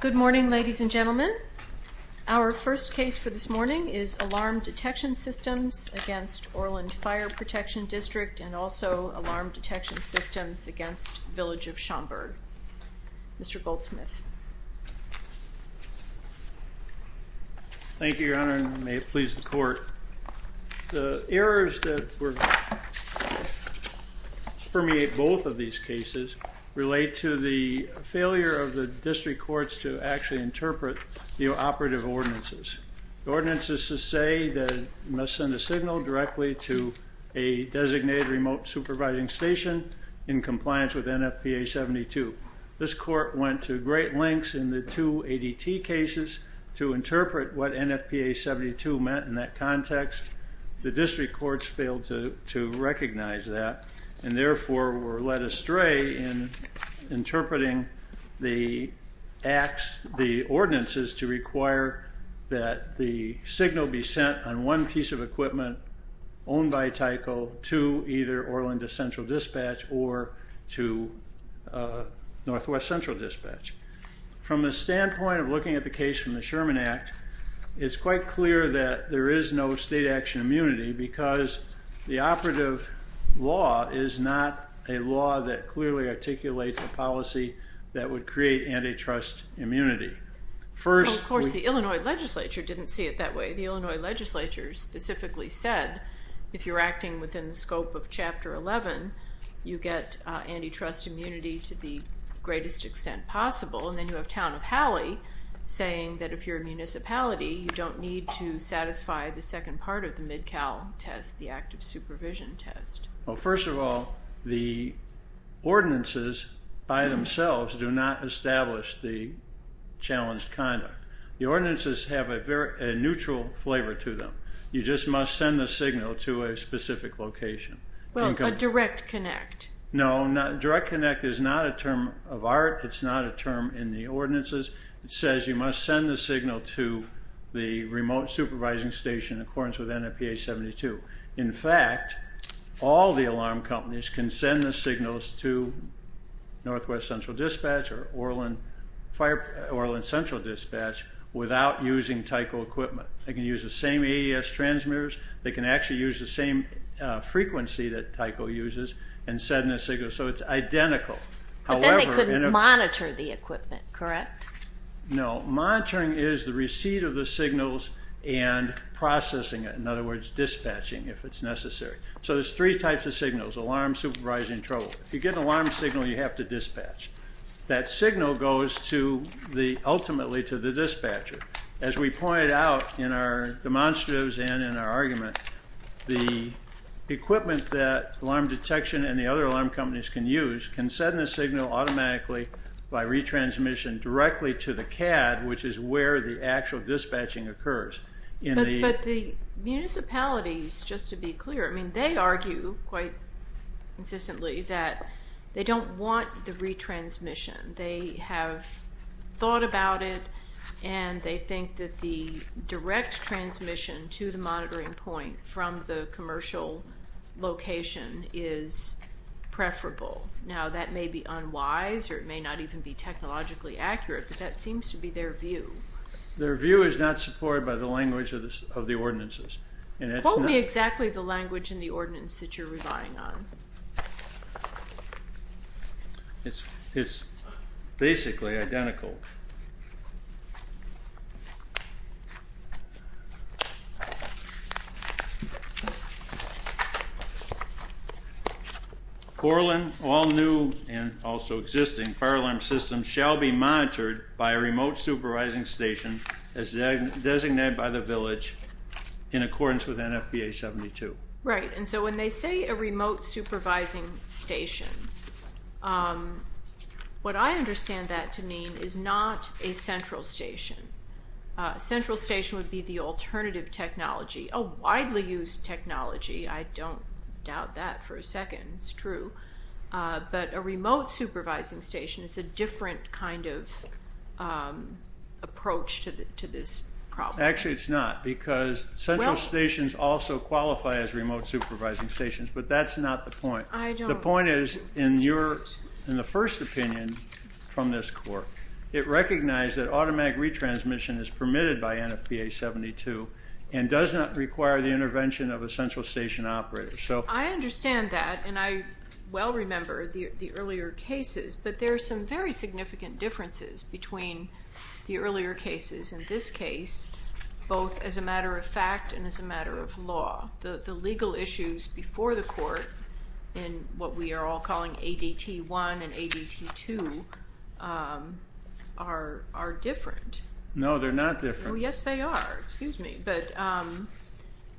Good morning, ladies and gentlemen. Our first case for this morning is Alarm Detection Systems against Orland Fire Protection District and also Alarm Detection Systems against Village of Schaumburg. Mr. Goldsmith. Thank you, Your Honor, and may it please the court. The errors that permeate both of these cases relate to the failure of the district courts to actually interpret the operative ordinances. The ordinances say that you must send a signal directly to a designated remote supervising station in compliance with NFPA 72. This court went to great lengths in the two ADT cases to interpret what NFPA 72 meant in that context. The district courts failed to recognize that and therefore were led astray in interpreting the ordinances to require that the signal be sent on one piece of equipment owned by Tyco to either Orland Central Dispatch or to Northwest Central Dispatch. From the standpoint of looking at the case from the Sherman Act, it's quite clear that there is no state action immunity because the operative law is not a law that clearly articulates a policy that would create antitrust immunity. Of course, the Illinois legislature didn't see it that way. The Illinois legislature specifically said if you're acting within the scope of Chapter 11, you get antitrust immunity to the greatest extent possible. Then you have Town of Hallie saying that if you're a municipality, you don't need to satisfy the second part of the MidCal test, the active supervision test. Well, first of all, the ordinances by themselves do not establish the challenged conduct. The ordinances have a neutral flavor to them. You just must send the signal to a specific location. Well, a direct connect. No, direct connect is not a term of art. It's not a term in the ordinances. It says you must send the signal to the remote supervising station in accordance with NFPA 72. In fact, all the alarm companies can send the signals to Northwest Central Dispatch or Orland Central Dispatch without using Tyco equipment. They can use the same AES transmitters. They can actually use the same frequency that Tyco uses and send the signal. So it's identical. But then they couldn't monitor the equipment, correct? No. Monitoring is the receipt of the signals and processing it. In other words, dispatching if it's necessary. So there's three types of signals, alarm, supervising, and trouble. If you get an alarm signal, you have to dispatch. That signal goes ultimately to the dispatcher. As we pointed out in our demonstratives and in our argument, the equipment that alarm detection and the other alarm companies can use can send the signal automatically by retransmission directly to the CAD, which is where the actual dispatching occurs. But the municipalities, just to be clear, they argue quite consistently that they don't want the retransmission. They have thought about it and they think that the direct transmission to the monitoring point from the commercial location is preferable. Now that may be unwise or it may not even be technologically accurate, but that seems to be their view. Their view is not supported by the language of the ordinances. What would be exactly the language in the ordinance that you're relying on? It's basically identical. Orlin, all new and also existing fire alarm systems shall be monitored by a remote supervising station as designated by the village in accordance with NFPA 72. Right. And so when they say a remote supervising station, what I understand that to mean is not a central station. Central station would be the alternative technology, a widely used technology. I don't doubt that for a second. It's true. But a remote supervising station is a different kind of approach to this problem. Actually, it's not because central stations also qualify as remote supervising stations, but that's not the point. The point is, in the first opinion from this court, it recognized that automatic retransmission is permitted by NFPA 72 and does not require the intervention of a central station operator. I understand that, and I well remember the earlier cases, but there are some very significant differences between the earlier cases and this case, both as a matter of fact and as a matter of law. The legal issues before the court in what we are all calling ADT 1 and ADT 2 are different. No, they're not different. Oh, yes, they are. Excuse me. But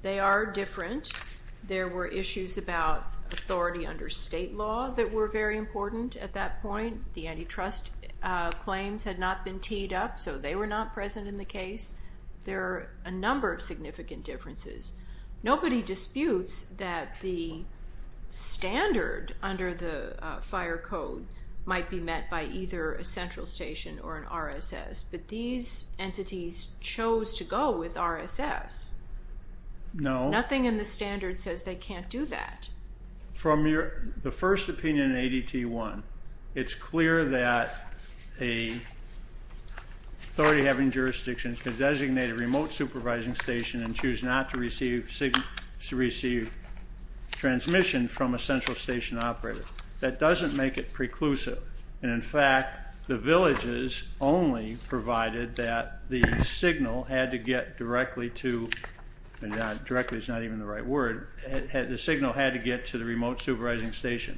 they are different. There were issues about authority under state law that were very important at that point. The antitrust claims had not been teed up, so they were not present in the case. There are a number of significant differences. Nobody disputes that the standard under the fire code might be met by either a central station or an RSS, but these entities chose to go with RSS. Nothing in the standard says they can't do that. From the first opinion in ADT 1, it's clear that an authority having jurisdiction could designate a remote supervising station and choose not to receive transmission from a central station operator. That doesn't make it preclusive. And in fact, the villages only provided that the signal had to get directly to, and directly is not even the right word, the signal had to get to the remote supervising station.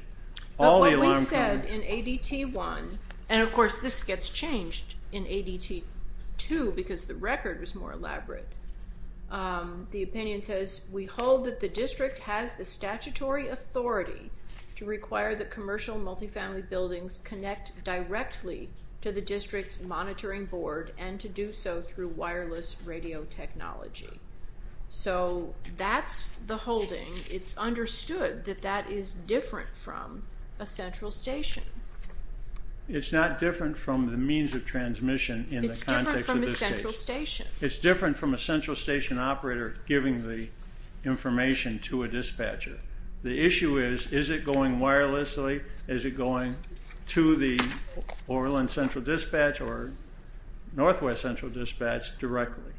All the alarm... As I said, in ADT 1, and of course this gets changed in ADT 2 because the record was more elaborate, the opinion says, we hold that the district has the statutory authority to require the commercial multifamily buildings connect directly to the district's monitoring board and to do so through wireless radio technology. So that's the holding. It's understood that that is different from a central station. It's not different from the means of transmission in the context of this case. It's different from a central station. giving the information to a dispatcher. The issue is, is it going wirelessly? Is it going to the Overland Central Dispatch or Northwest Central Dispatch directly?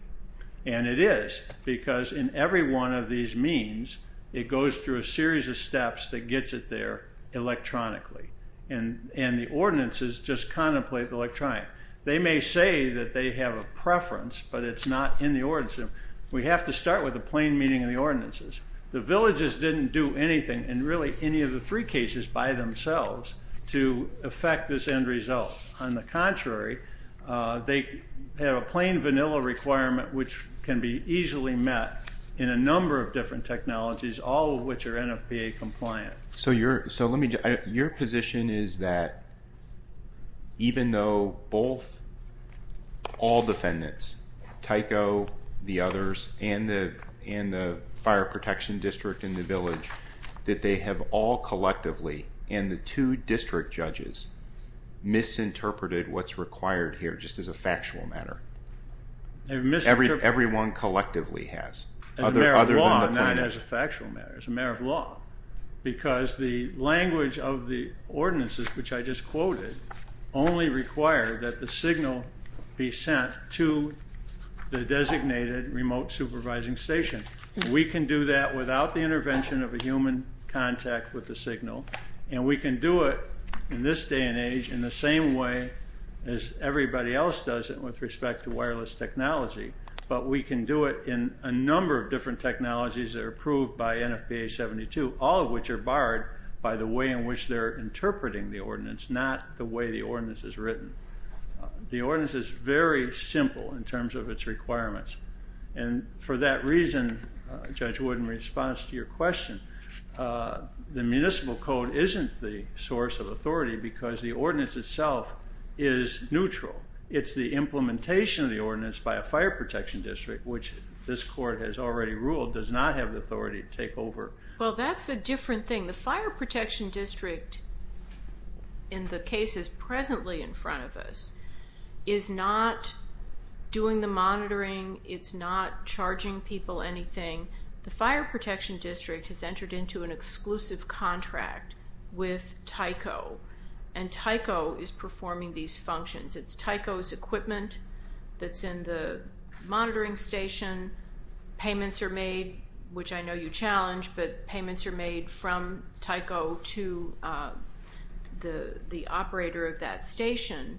And it is because in every one of these means, it goes through a series of steps that gets it there electronically. And the ordinances just contemplate the electronic. They may say that they have a preference, but it's not in the ordinance. We have to start with the plain meaning of the ordinances. The villages didn't do anything in really any of the three cases by themselves to affect this end result. On the contrary, they have a plain vanilla requirement, which can be easily met in a number of different technologies, all of which are NFPA compliant. So your position is that even though all defendants, Tyco, the others, and the fire protection district in the village, that they have all collectively, and the two district judges, misinterpreted what's required here just as a factual matter? Everyone collectively has, other than the plaintiffs. As a factual matter, as a matter of law, because the language of the ordinances, which I just quoted, only require that the signal be sent to the designated remote supervising station. We can do that without the intervention of a human contact with the signal, and we can do it in this day and age in the same way as everybody else does it with respect to wireless technology. But we can do it in a number of different technologies that are approved by NFPA 72, all of which are barred by the way in which they're interpreting the ordinance, not the way the ordinance is written. The ordinance is very simple in terms of its requirements, and for that reason, Judge Wood, in response to your question, the municipal code isn't the source of authority because the ordinance itself is neutral. It's the implementation of the ordinance by a fire protection district, which this court has already ruled does not have the authority to take over. Well, that's a different thing. The fire protection district in the cases presently in front of us is not doing the monitoring. It's not charging people anything. The fire protection district has entered into an exclusive contract with Tyco, and Tyco is performing these functions. It's Tyco's equipment that's in the monitoring station. Payments are made, which I know you challenge, but payments are made from Tyco to the operator of that station.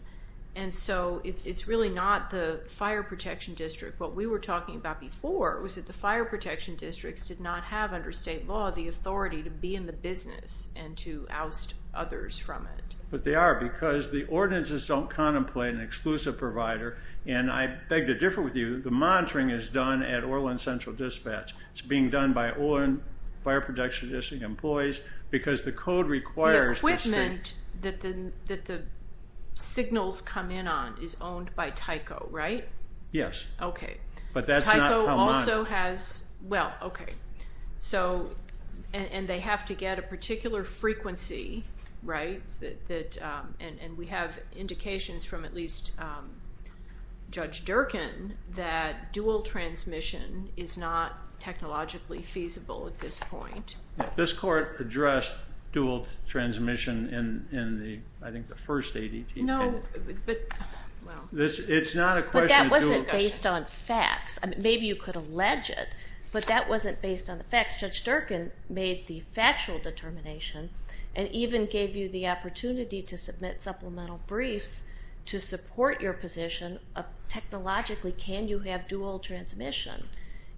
And so it's really not the fire protection district. What we were talking about before was that the fire protection districts did not have under state law the authority to be in the business and to oust others from it. But they are because the ordinances don't contemplate an exclusive provider, and I beg to differ with you. The monitoring is done at Orland Central Dispatch. It's being done by Orland Fire Protection District employees because the code requires the state... The equipment that the signals come in on is owned by Tyco, right? Yes. Okay. But that's not how monitoring... Well, okay. So, and they have to get a particular frequency, right? And we have indications from at least Judge Durkin that dual transmission is not technologically feasible at this point. This court addressed dual transmission in, I think, the first ADT. No, but... It's not a question... But that wasn't based on facts. Maybe you could allege it, but that wasn't based on the facts. Judge Durkin made the factual determination and even gave you the opportunity to submit supplemental briefs to support your position of technologically can you have dual transmission.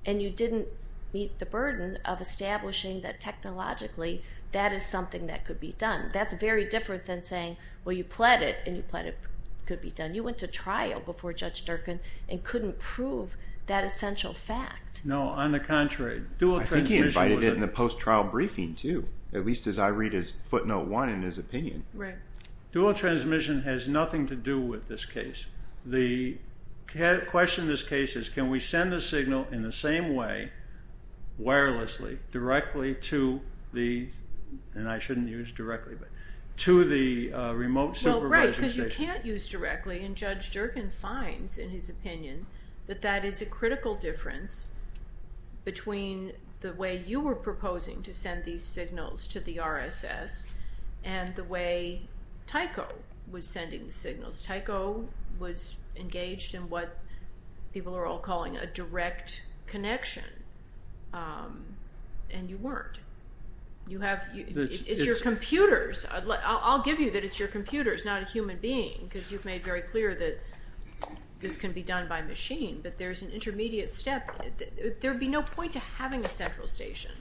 And you didn't meet the burden of establishing that technologically that is something that could be done. That's very different than saying, well, you pled it and you pled it could be done. You went to trial before Judge Durkin and couldn't prove that essential fact. No, on the contrary. I think he invited it in the post-trial briefing, too, at least as I read his footnote one in his opinion. Right. Dual transmission has nothing to do with this case. The question in this case is, can we send a signal in the same way, wirelessly, directly to the... And I shouldn't use directly, but... To the remote supervising station. Right, because you can't use directly and Judge Durkin finds in his opinion that that is a critical difference between the way you were proposing to send these signals to the RSS and the way Tyco was sending the signals. Tyco was engaged in what people are all calling a direct connection and you weren't. It's your computers. I'll give you that it's your computers, not a human being, because you've made very clear that this can be done by machine. But there's an intermediate step. There would be no point to having a central station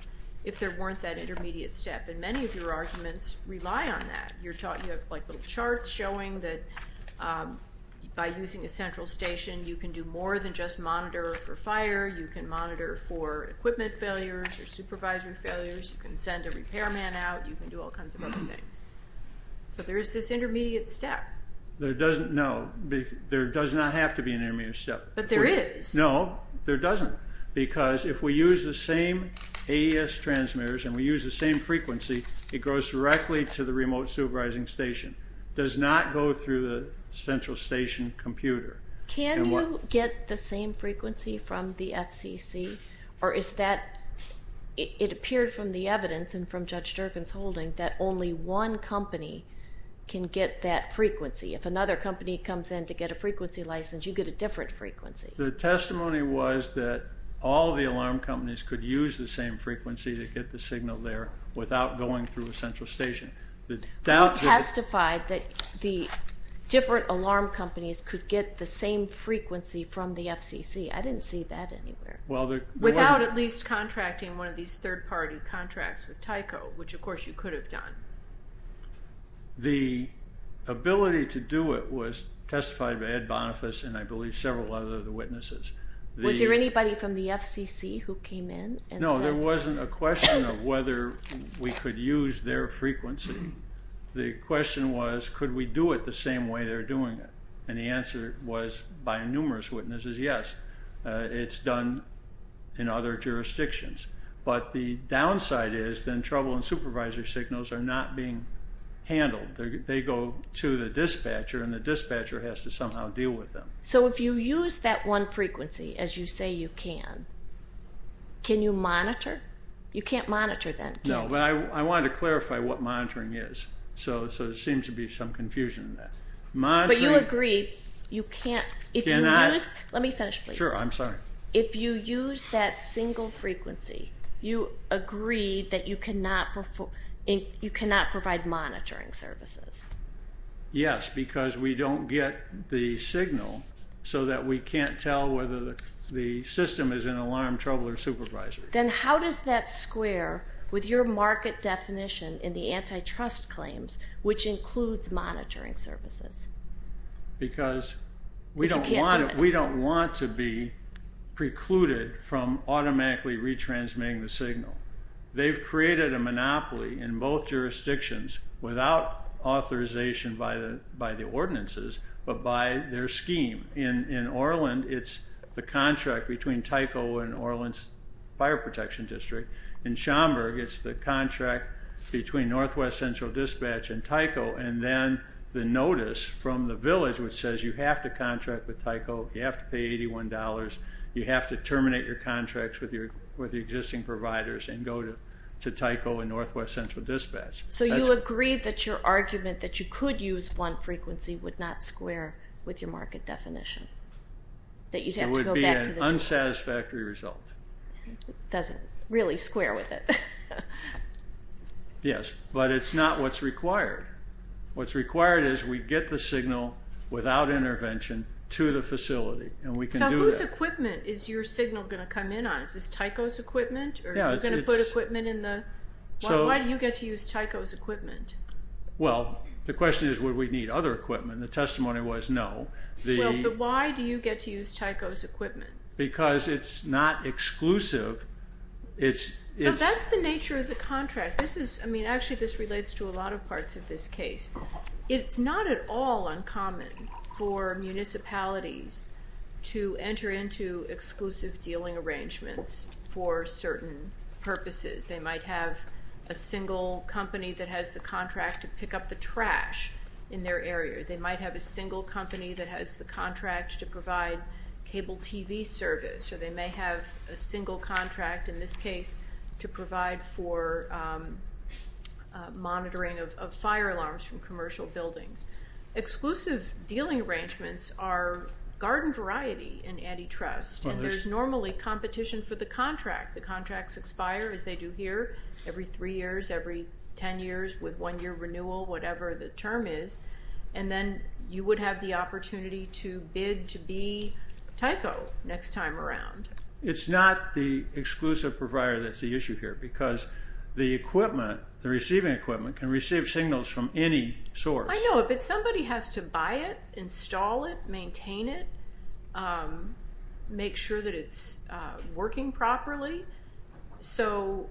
if there weren't that intermediate step, and many of your arguments rely on that. You have charts showing that by using a central station, you can do more than just monitor for fire. You can monitor for equipment failures or supervisory failures. You can send a repairman out. You can do all kinds of other things. So there is this intermediate step. There doesn't... No, there does not have to be an intermediate step. But there is. No, there doesn't. Because if we use the same AES transmitters and we use the same frequency, it goes directly to the remote supervising station. It does not go through the central station computer. Can you get the same frequency from the FCC? Or is that... It appeared from the evidence and from Judge Durkin's holding that only one company can get that frequency. If another company comes in to get a frequency license, you get a different frequency. The testimony was that all the alarm companies could use the same frequency to get the signal there without going through a central station. You testified that the different alarm companies could get the same frequency from the FCC. I didn't see that anywhere. Without at least contracting one of these third-party contracts with Tyco, which, of course, you could have done. The ability to do it was testified by Ed Boniface and, I believe, several other witnesses. Was there anybody from the FCC who came in and said... No, there wasn't a question of whether we could use their frequency. The question was, could we do it the same way they're doing it? And the answer was, by numerous witnesses, yes. It's done in other jurisdictions. But the downside is then trouble and supervisor signals are not being handled. They go to the dispatcher, and the dispatcher has to somehow deal with them. So if you use that one frequency, as you say you can, can you monitor? You can't monitor that, can you? No, but I wanted to clarify what monitoring is. So there seems to be some confusion in that. But you agree you can't... Let me finish, please. Sure, I'm sorry. If you use that single frequency, you agree that you cannot provide monitoring services. Yes, because we don't get the signal so that we can't tell whether the system is in alarm, trouble, or supervisor. Then how does that square with your market definition in the antitrust claims, which includes monitoring services? Because we don't want to be precluded from automatically retransmitting the signal. They've created a monopoly in both jurisdictions without authorization by the ordinances, but by their scheme. In Orland, it's the contract between Tyco and Orland's Fire Protection District. In Schaumburg, it's the contract between Northwest Central Dispatch and Tyco. And then the notice from the village, which says you have to contract with Tyco, you have to pay $81, you have to terminate your contracts with the existing providers and go to Tyco and Northwest Central Dispatch. So you agree that your argument that you could use one frequency would not square with your market definition, that you'd have to go back to the district? It would be an unsatisfactory result. It doesn't really square with it. Yes, but it's not what's required. What's required is we get the signal without intervention to the facility, and we can do that. So whose equipment is your signal going to come in on? Is this Tyco's equipment, or are you going to put equipment in the... Why do you get to use Tyco's equipment? Well, the question is would we need other equipment? The testimony was no. Well, but why do you get to use Tyco's equipment? Because it's not exclusive. So that's the nature of the contract. Actually, this relates to a lot of parts of this case. It's not at all uncommon for municipalities to enter into exclusive dealing arrangements for certain purposes. They might have a single company that has the contract to pick up the trash in their area. They might have a single company that has the contract to provide cable TV service, or they may have a single contract, in this case, to provide for monitoring of fire alarms from commercial buildings. Exclusive dealing arrangements are garden variety in antitrust, and there's normally competition for the contract. The contracts expire, as they do here, every three years, every ten years, with one-year renewal, whatever the term is. And then you would have the opportunity to bid to be Tyco next time around. It's not the exclusive provider that's the issue here, because the equipment, the receiving equipment, can receive signals from any source. I know, but somebody has to buy it, install it, maintain it, make sure that it's working properly. So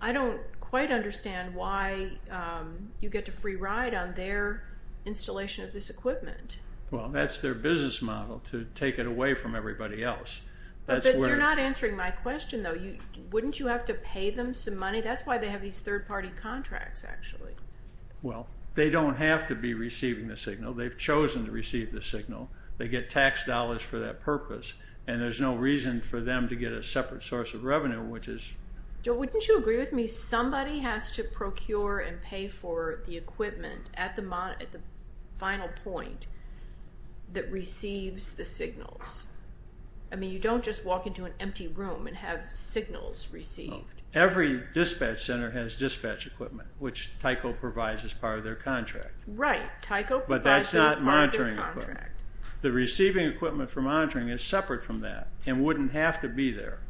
I don't quite understand why you get to free ride on their installation of this equipment. Well, that's their business model, to take it away from everybody else. But you're not answering my question, though. Wouldn't you have to pay them some money? That's why they have these third-party contracts, actually. Well, they don't have to be receiving the signal. They've chosen to receive the signal. They get tax dollars for that purpose, and there's no reason for them to get a separate source of revenue, which is... Wouldn't you agree with me, somebody has to procure and pay for the equipment at the final point that receives the signals? I mean, you don't just walk into an empty room and have signals received. Every dispatch center has dispatch equipment, which Tyco provides as part of their contract. Right, Tyco provides as part of their contract. The receiving equipment for monitoring is separate from that and wouldn't have to be there.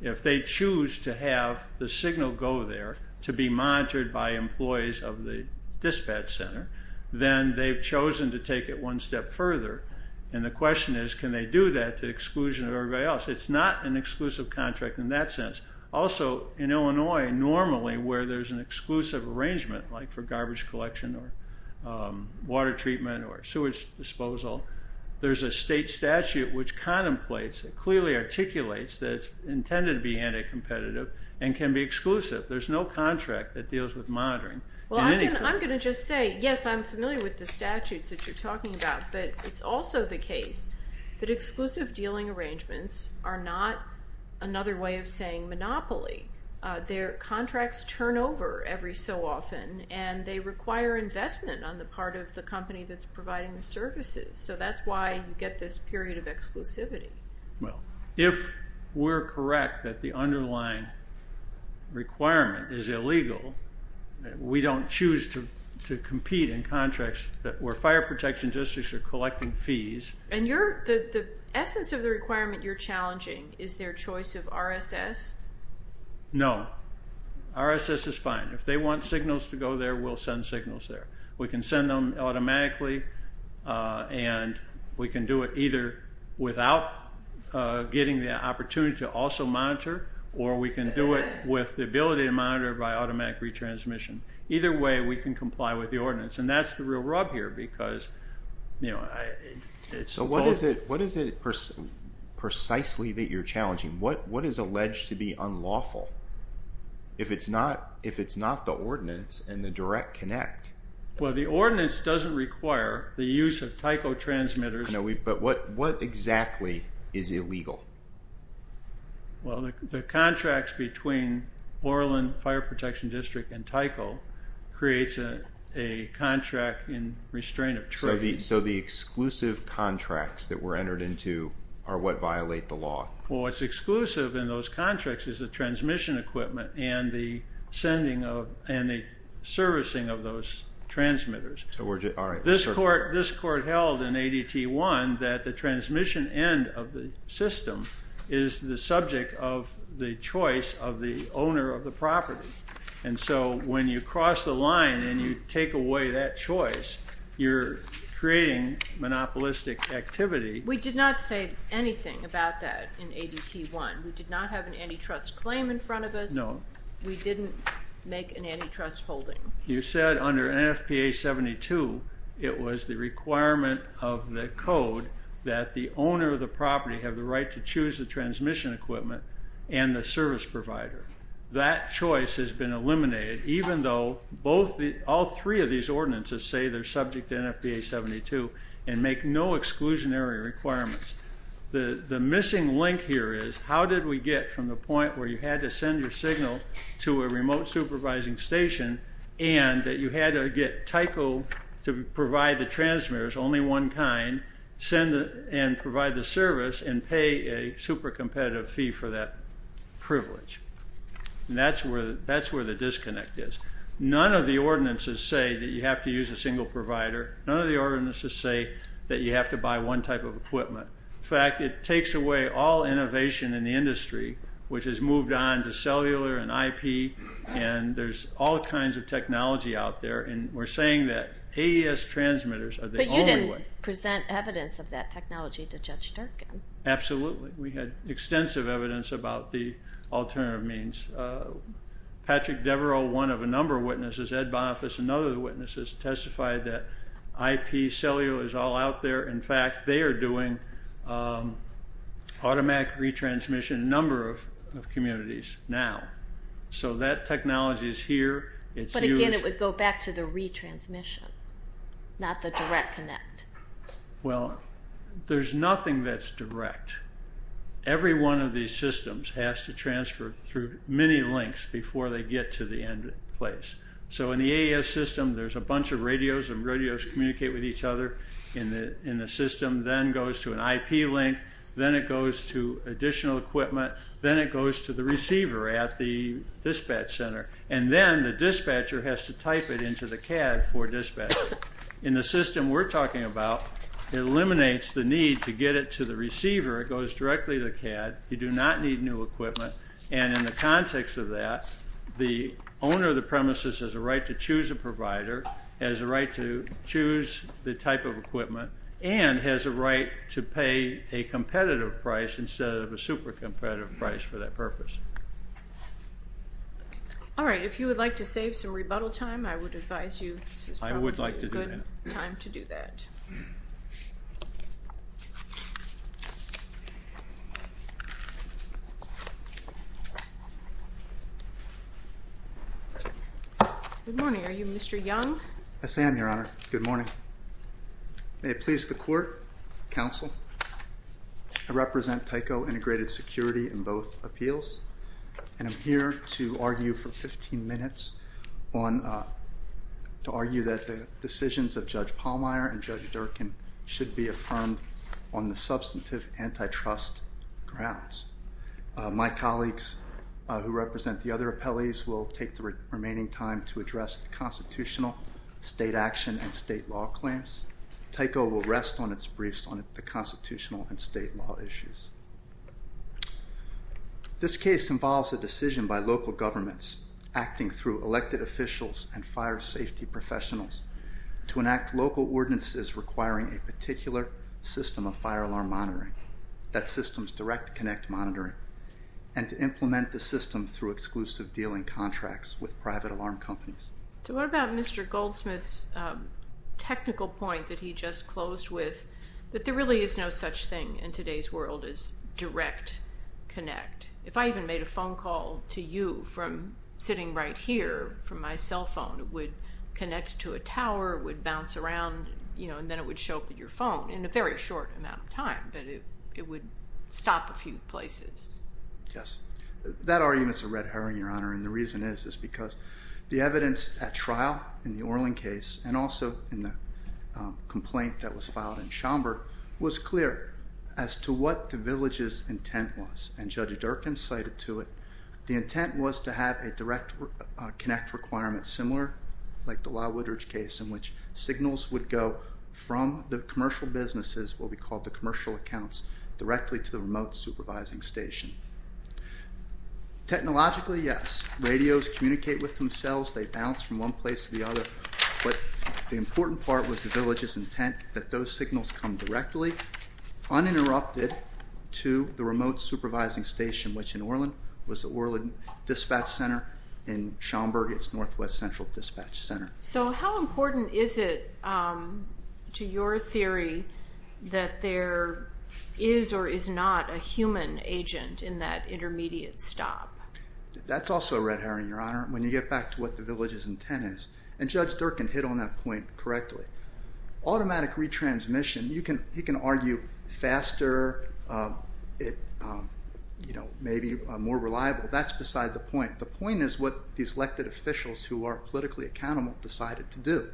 If they choose to have the signal go there to be monitored by employees of the dispatch center, then they've chosen to take it one step further. And the question is, can they do that to exclusion of everybody else? It's not an exclusive contract in that sense. Also, in Illinois, normally where there's an exclusive arrangement, like for garbage collection or water treatment or sewage disposal, there's a state statute which contemplates and clearly articulates that it's intended to be anti-competitive and can be exclusive. There's no contract that deals with monitoring. Well, I'm going to just say, yes, I'm familiar with the statutes that you're talking about, but it's also the case that exclusive dealing arrangements are not another way of saying monopoly. Their contracts turn over every so often, and they require investment on the part of the company that's providing the services. So that's why you get this period of exclusivity. Well, if we're correct that the underlying requirement is illegal, we don't choose to compete in contracts where fire protection districts are collecting fees. And the essence of the requirement you're challenging, is their choice of RSS? No. RSS is fine. If they want signals to go there, we'll send signals there. We can send them automatically, and we can do it either without getting the opportunity to also monitor, or we can do it with the ability to monitor by automatic retransmission. Either way, we can comply with the ordinance. And that's the real rub here, because, you know, I suppose— What is alleged to be unlawful, if it's not the ordinance and the direct connect? Well, the ordinance doesn't require the use of Tyco transmitters. But what exactly is illegal? Well, the contracts between Orlin Fire Protection District and Tyco creates a contract in restraint of trade. So the exclusive contracts that were entered into are what violate the law? Well, what's exclusive in those contracts is the transmission equipment and the servicing of those transmitters. All right. This court held in ADT 1 that the transmission end of the system is the subject of the choice of the owner of the property. And so when you cross the line and you take away that choice, you're creating monopolistic activity. We did not say anything about that in ADT 1. We did not have an antitrust claim in front of us. No. We didn't make an antitrust holding. You said under NFPA 72, it was the requirement of the code that the owner of the property have the right to choose the transmission equipment and the service provider. That choice has been eliminated, even though all three of these ordinances say they're subject to NFPA 72 and make no exclusionary requirements. The missing link here is how did we get from the point where you had to send your signal to a remote supervising station and that you had to get Tyco to provide the transmitters, send and provide the service, and pay a super competitive fee for that privilege? And that's where the disconnect is. None of the ordinances say that you have to use a single provider. None of the ordinances say that you have to buy one type of equipment. In fact, it takes away all innovation in the industry, which has moved on to cellular and IP, and there's all kinds of technology out there. And we're saying that AES transmitters are the only way. But you didn't present evidence of that technology to Judge Durkan. Absolutely. We had extensive evidence about the alternative means. Patrick Devereaux, one of a number of witnesses, Ed Boniface, another of the witnesses, testified that IP cellular is all out there. In fact, they are doing automatic retransmission in a number of communities now. So that technology is here. But again, it would go back to the retransmission, not the direct connect. Well, there's nothing that's direct. Every one of these systems has to transfer through many links before they get to the end place. So in the AES system, there's a bunch of radios, and radios communicate with each other in the system. Then it goes to an IP link. Then it goes to additional equipment. Then it goes to the receiver at the dispatch center. And then the dispatcher has to type it into the CAD for dispatch. In the system we're talking about, it eliminates the need to get it to the receiver. It goes directly to the CAD. You do not need new equipment. And in the context of that, the owner of the premises has a right to choose a provider, has a right to choose the type of equipment, and has a right to pay a competitive price instead of a super competitive price for that purpose. All right, if you would like to save some rebuttal time, I would advise you this is probably a good time to do that. I would like to do that. Good morning. Are you Mr. Young? I am, Your Honor. Good morning. May it please the court, counsel, I represent Tyco Integrated Security in both appeals, and I'm here to argue for 15 minutes on to argue that the decisions of Judge Pallmeyer and Judge Durkin should be affirmed on the substantive antitrust grounds. My colleagues who represent the other appellees will take the remaining time to address the constitutional, state action, and state law claims. Tyco will rest on its briefs on the constitutional and state law issues. This case involves a decision by local governments acting through elected officials and fire safety professionals to enact local ordinances requiring a particular system of fire alarm monitoring, that system's direct connect monitoring, and to implement the system through exclusive dealing contracts with private alarm companies. So what about Mr. Goldsmith's technical point that he just closed with, that there really is no such thing in today's world as direct connect? If I even made a phone call to you from sitting right here from my cell phone, it would connect to a tower, it would bounce around, you know, it would stop a few places. Yes. That argument's a red herring, Your Honor, and the reason is is because the evidence at trial in the Orlin case and also in the complaint that was filed in Schaumburg was clear as to what the village's intent was, and Judge Durkin cited to it the intent was to have a direct connect requirement similar, like the Lyle Woodridge case, in which signals would go from the commercial businesses, what we call the commercial accounts, directly to the remote supervising station. Technologically, yes, radios communicate with themselves. They bounce from one place to the other, but the important part was the village's intent that those signals come directly, uninterrupted, to the remote supervising station, which in Orlin was the Orlin Dispatch Center. In Schaumburg, it's Northwest Central Dispatch Center. So how important is it to your theory that there is or is not a human agent in that intermediate stop? That's also a red herring, Your Honor, when you get back to what the village's intent is, and Judge Durkin hit on that point correctly. Automatic retransmission, he can argue faster, maybe more reliable. That's beside the point. The point is what these elected officials who are politically accountable decided to do.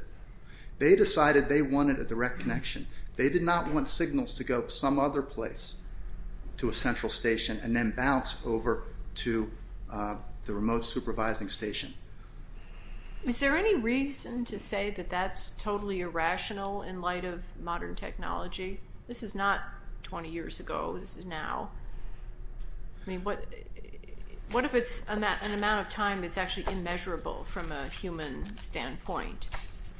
They decided they wanted a direct connection. They did not want signals to go some other place to a central station and then bounce over to the remote supervising station. Is there any reason to say that that's totally irrational in light of modern technology? This is not 20 years ago. This is now. I mean, what if it's an amount of time that's actually immeasurable from a human standpoint?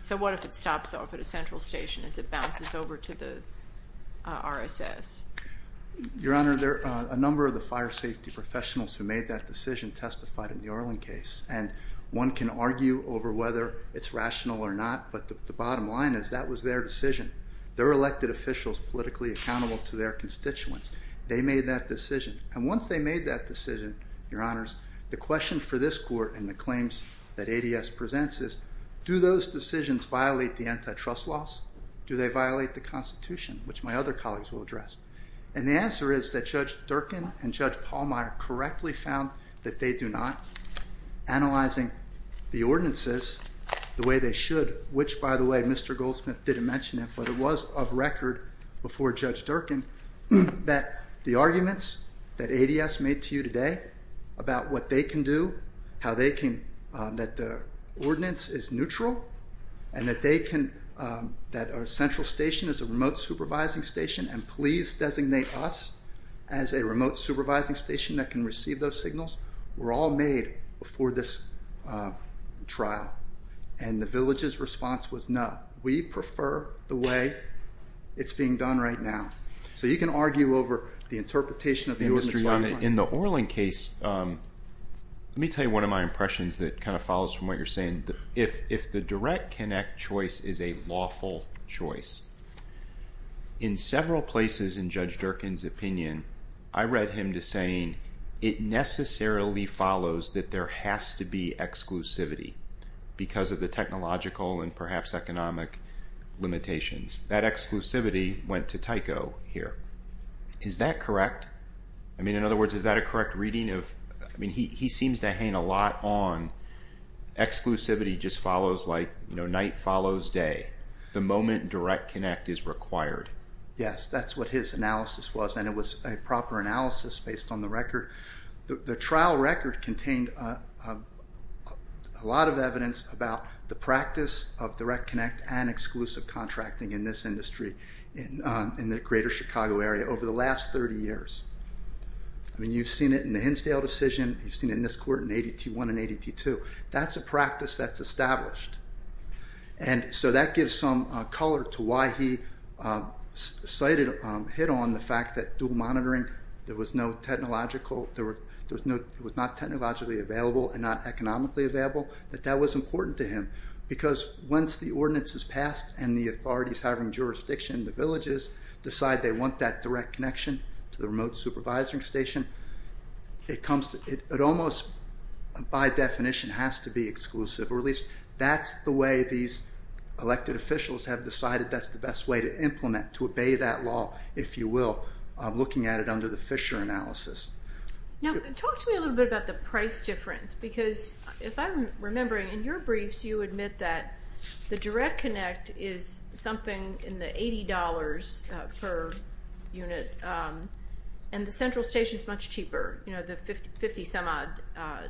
So what if it stops off at a central station as it bounces over to the RSS? Your Honor, a number of the fire safety professionals who made that decision testified in the Orlin case, and one can argue over whether it's rational or not, but the bottom line is that was their decision. They're elected officials politically accountable to their constituents. They made that decision, and once they made that decision, Your Honors, the question for this court and the claims that ADS presents is do those decisions violate the antitrust laws? Do they violate the Constitution, which my other colleagues will address? And the answer is that Judge Durkin and Judge Pallmeyer correctly found that they do not, analyzing the ordinances the way they should, which, by the way, Mr. Goldsmith didn't mention it, but it was of record before Judge Durkin that the arguments that ADS made to you today about what they can do, that the ordinance is neutral, and that a central station is a remote supervising station, and please designate us as a remote supervising station that can receive those signals, were all made before this trial, and the village's response was no. We prefer the way it's being done right now. So you can argue over the interpretation of the U.S. bottom line. In the Orlin case, let me tell you one of my impressions that kind of follows from what you're saying. If the direct connect choice is a lawful choice, in several places in Judge Durkin's opinion, I read him to saying it necessarily follows that there has to be exclusivity because of the technological and perhaps economic limitations. That exclusivity went to Tyco here. Is that correct? I mean, in other words, is that a correct reading? I mean, he seems to hang a lot on exclusivity just follows like night follows day. The moment direct connect is required. Yes, that's what his analysis was, and it was a proper analysis based on the record. The trial record contained a lot of evidence about the practice of direct connect and exclusive contracting in this industry in the greater Chicago area over the last 30 years. I mean, you've seen it in the Hinsdale decision. You've seen it in this court in ADT 1 and ADT 2. That's a practice that's established, and so that gives some color to why he cited, hit on the fact that dual monitoring, there was no technological, there was not technologically available and not economically available, that that was important to him because once the ordinance is passed and the authorities having jurisdiction in the villages decide they want that direct connection to the remote supervising station, it comes to, it almost by definition has to be exclusive, or at least that's the way these elected officials have decided that's the best way to implement, to obey that law, if you will, looking at it under the Fisher analysis. Now, talk to me a little bit about the price difference because if I'm remembering, in your briefs you admit that the direct connect is something in the $80 per unit and the central station is much cheaper, you know, the 50 some odd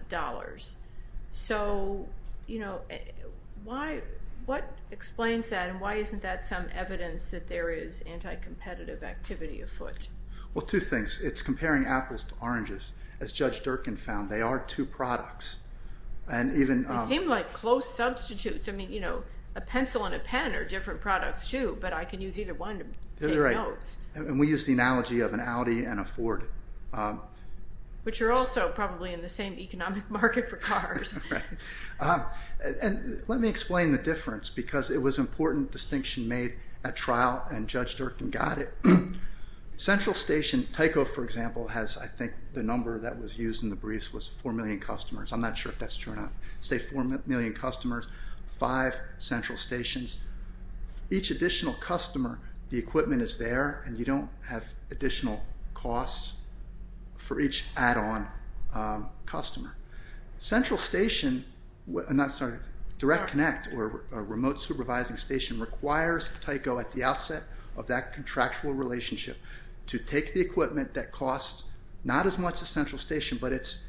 dollars. So, you know, what explains that and why isn't that some evidence that there is anti-competitive activity afoot? Well, two things. It's comparing apples to oranges. As Judge Durkin found, they are two products. They seem like close substitutes. I mean, you know, a pencil and a pen are different products too, but I can use either one to take notes. And we use the analogy of an Audi and a Ford. Which are also probably in the same economic market for cars. Right. And let me explain the difference because it was important distinction made at trial and Judge Durkin got it. Central station, Tyco, for example, has, I think, the number that was used in the briefs was 4 million customers. I'm not sure if that's true or not. Say 4 million customers, 5 central stations. Each additional customer, the equipment is there and you don't have additional costs for each add-on customer. Central station, I'm sorry, Direct Connect or remote supervising station requires Tyco at the outset of that contractual relationship to take the equipment that costs not as much as central station, but it's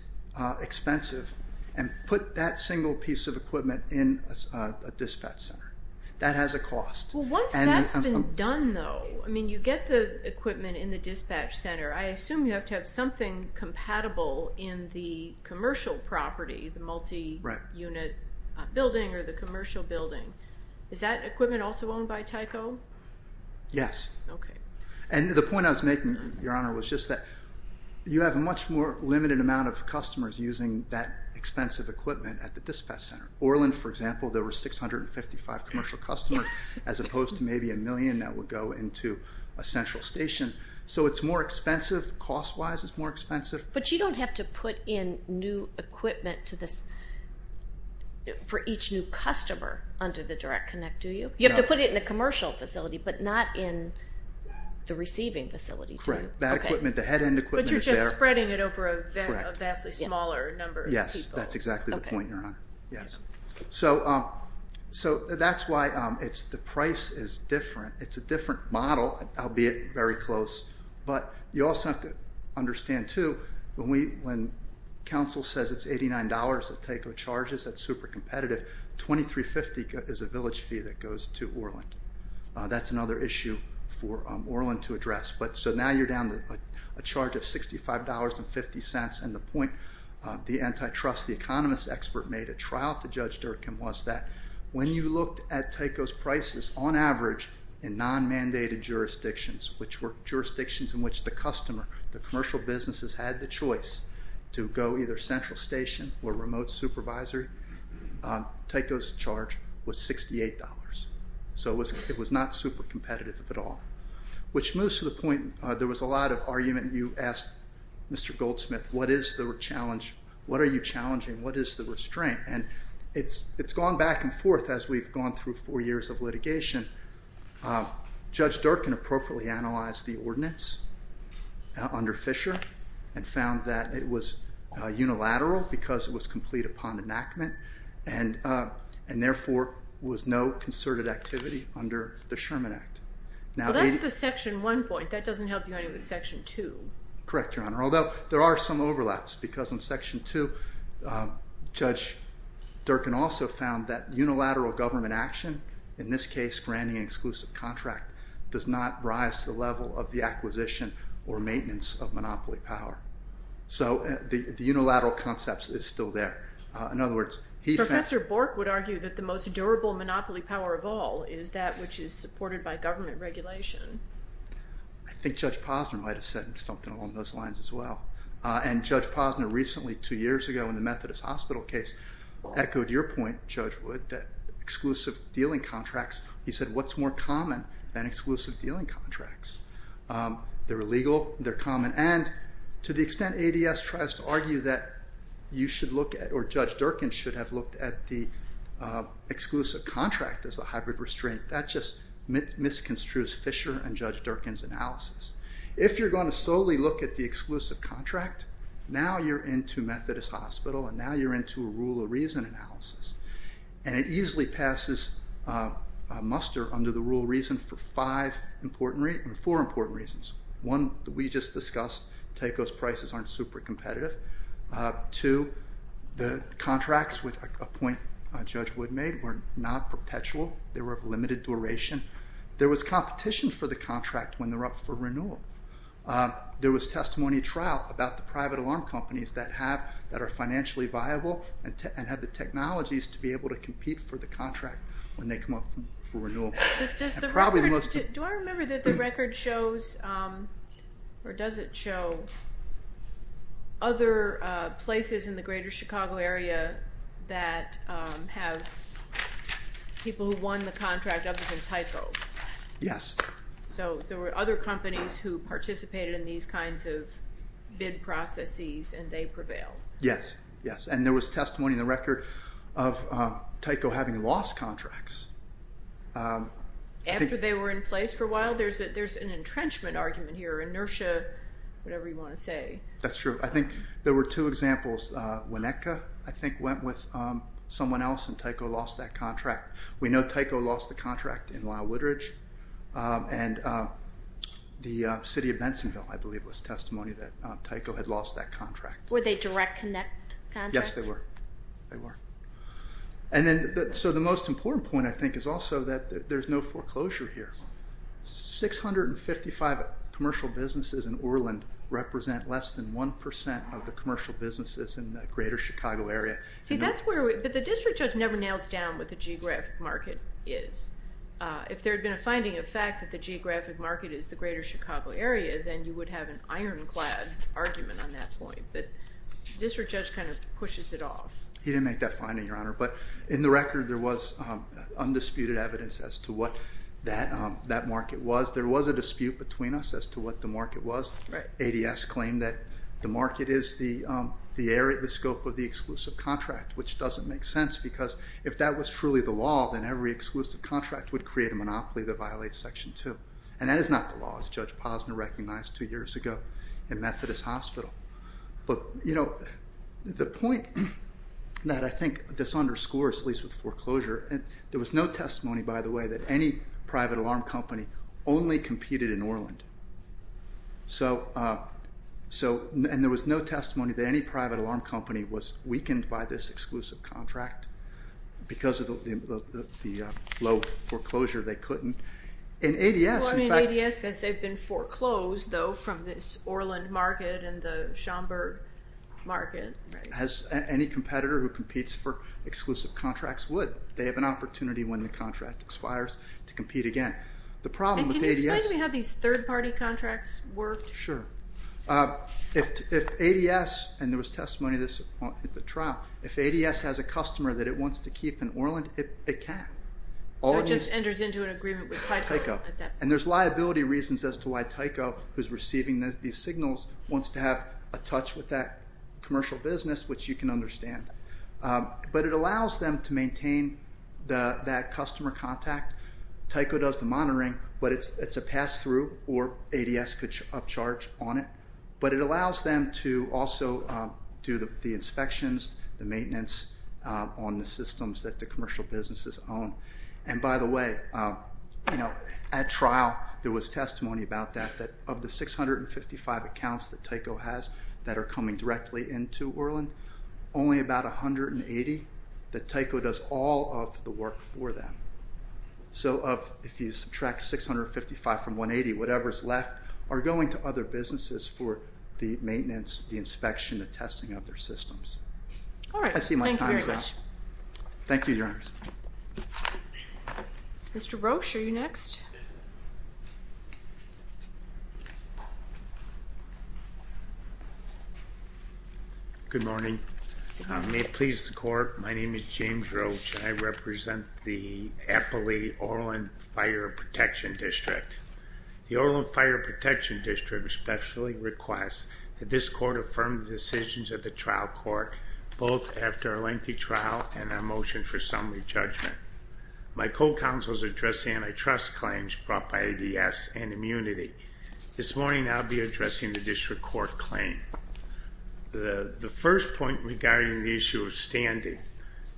expensive, and put that single piece of equipment in a dispatch center. That has a cost. Once that's been done, though, I mean, you get the equipment in the dispatch center. I assume you have to have something compatible in the commercial property, the multi-unit building or the commercial building. Is that equipment also owned by Tyco? Yes. Okay. And the point I was making, Your Honor, was just that you have a much more limited amount of customers using that expensive equipment at the dispatch center. In Orland, for example, there were 655 commercial customers as opposed to maybe a million that would go into a central station. So it's more expensive. Cost-wise, it's more expensive. But you don't have to put in new equipment for each new customer under the Direct Connect, do you? You have to put it in the commercial facility, but not in the receiving facility, do you? Correct. That equipment, the head-end equipment is there. But you're just spreading it over a vastly smaller number of people. That's exactly the point, Your Honor. Yes. So that's why the price is different. It's a different model, albeit very close. But you also have to understand, too, when council says it's $89 that Tyco charges, that's super competitive, $23.50 is a village fee that goes to Orland. That's another issue for Orland to address. So now you're down a charge of $65.50, and the point the antitrust, the economist expert, made at trial to Judge Durkin was that when you looked at Tyco's prices, on average, in non-mandated jurisdictions, which were jurisdictions in which the customer, the commercial businesses had the choice to go either central station or remote supervisory, Tyco's charge was $68. So it was not super competitive at all. Which moves to the point, there was a lot of argument. You asked Mr. Goldsmith, what is the challenge? What are you challenging? What is the restraint? And it's gone back and forth as we've gone through four years of litigation. Judge Durkin appropriately analyzed the ordinance under Fisher and found that it was unilateral because it was complete upon enactment and, therefore, was no concerted activity under the Sherman Act. Well, that's the Section 1 point. That doesn't help you any with Section 2. Correct, Your Honor, although there are some overlaps because in Section 2, Judge Durkin also found that unilateral government action, in this case granting an exclusive contract, does not rise to the level of the acquisition or maintenance of monopoly power. So the unilateral concept is still there. In other words, he found— Professor Bork would argue that the most durable monopoly power of all is that which is supported by government regulation. I think Judge Posner might have said something along those lines as well. And Judge Posner recently, two years ago, in the Methodist Hospital case, echoed your point, Judge Wood, that exclusive dealing contracts, he said what's more common than exclusive dealing contracts? They're illegal, they're common, and to the extent ADS tries to argue that you should look at or Judge Durkin should have looked at the exclusive contract as a hybrid restraint, that just misconstrues Fisher and Judge Durkin's analysis. If you're going to solely look at the exclusive contract, now you're into Methodist Hospital and now you're into a rule of reason analysis. And it easily passes muster under the rule of reason for four important reasons. One, we just discussed, TACO's prices aren't super competitive. Two, the contracts, a point Judge Wood made, were not perpetual. They were of limited duration. There was competition for the contract when they were up for renewal. There was testimony trial about the private alarm companies that are financially viable and have the technologies to be able to compete for the contract when they come up for renewal. Do I remember that the record shows or does it show other places in the greater Chicago area that have people who won the contract other than TACO? Yes. So there were other companies who participated in these kinds of bid processes and they prevailed. Yes, yes, and there was testimony in the record of TACO having lost contracts. After they were in place for a while? There's an entrenchment argument here, inertia, whatever you want to say. That's true. I think there were two examples. Winnetka, I think, went with someone else and TACO lost that contract. We know TACO lost the contract in Lyle Woodridge and the city of Bensonville, I believe, was testimony that TACO had lost that contract. Were they direct connect contracts? Yes, they were. They were. And then, so the most important point, I think, is also that there's no foreclosure here. 655 commercial businesses in Orland represent less than 1% of the commercial businesses in the greater Chicago area. But the district judge never nails down what the geographic market is. If there had been a finding of fact that the geographic market is the greater Chicago area, then you would have an ironclad argument on that point. But the district judge kind of pushes it off. He didn't make that finding, Your Honor. But in the record, there was undisputed evidence as to what that market was. There was a dispute between us as to what the market was. ADS claimed that the market is the scope of the exclusive contract, which doesn't make sense because if that was truly the law, then every exclusive contract would create a monopoly that violates Section 2. And that is not the law, as Judge Posner recognized two years ago in Methodist Hospital. But, you know, the point that I think this underscores, at least with foreclosure, there was no testimony, by the way, that any private alarm company only competed in Orland. And there was no testimony that any private alarm company was weakened by this exclusive contract because of the low foreclosure they couldn't. ADS says they've been foreclosed, though, from this Orland market and the Schomburg market. Any competitor who competes for exclusive contracts would. They have an opportunity when the contract expires to compete again. Can you explain to me how these third-party contracts worked? Sure. If ADS, and there was testimony of this at the trial, if ADS has a customer that it wants to keep in Orland, it can. So it just enters into an agreement with Tyco at that point. And there's liability reasons as to why Tyco, who's receiving these signals, wants to have a touch with that commercial business, which you can understand. But it allows them to maintain that customer contact. Tyco does the monitoring, but it's a pass-through, or ADS could upcharge on it. But it allows them to also do the inspections, the maintenance on the systems that the commercial businesses own. And, by the way, at trial there was testimony about that, that of the 655 accounts that Tyco has that are coming directly into Orland, only about 180 that Tyco does all of the work for them. So if you subtract 655 from 180, whatever's left are going to other businesses for the maintenance, the inspection, the testing of their systems. All right. I see my time is up. Thank you very much. Thank you, Your Honors. Mr. Roche, are you next? Yes, ma'am. Good morning. May it please the Court, my name is James Roche. I represent the Appali Orland Fire Protection District. The Orland Fire Protection District especially requests that this Court affirm the decisions of the trial court, both after a lengthy trial and a motion for summary judgment. My co-counsel is addressing antitrust claims brought by ADS and immunity. This morning I'll be addressing the district court claim. The first point regarding the issue of standing,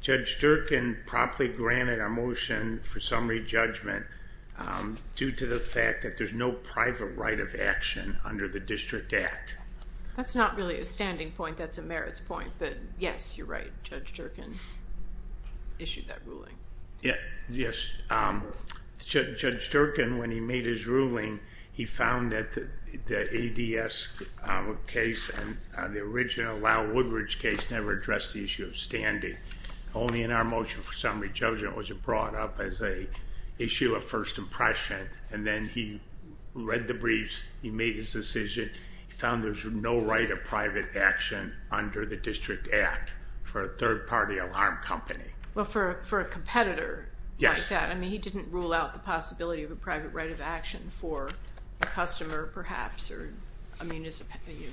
Judge Durkin properly granted our motion for summary judgment due to the fact that there's no private right of action under the District Act. That's not really a standing point, that's a merits point, but yes, you're right, Judge Durkin issued that ruling. Yes. Judge Durkin, when he made his ruling, he found that the ADS case and the original Lyle Woodridge case never addressed the issue of standing. Only in our motion for summary judgment was it brought up as an issue of first impression, and then he read the briefs, he made his decision, he found there's no right of private action under the District Act for a third-party alarm company. Well, for a competitor like that, I mean, he didn't rule out the possibility of a private right of action for a customer perhaps or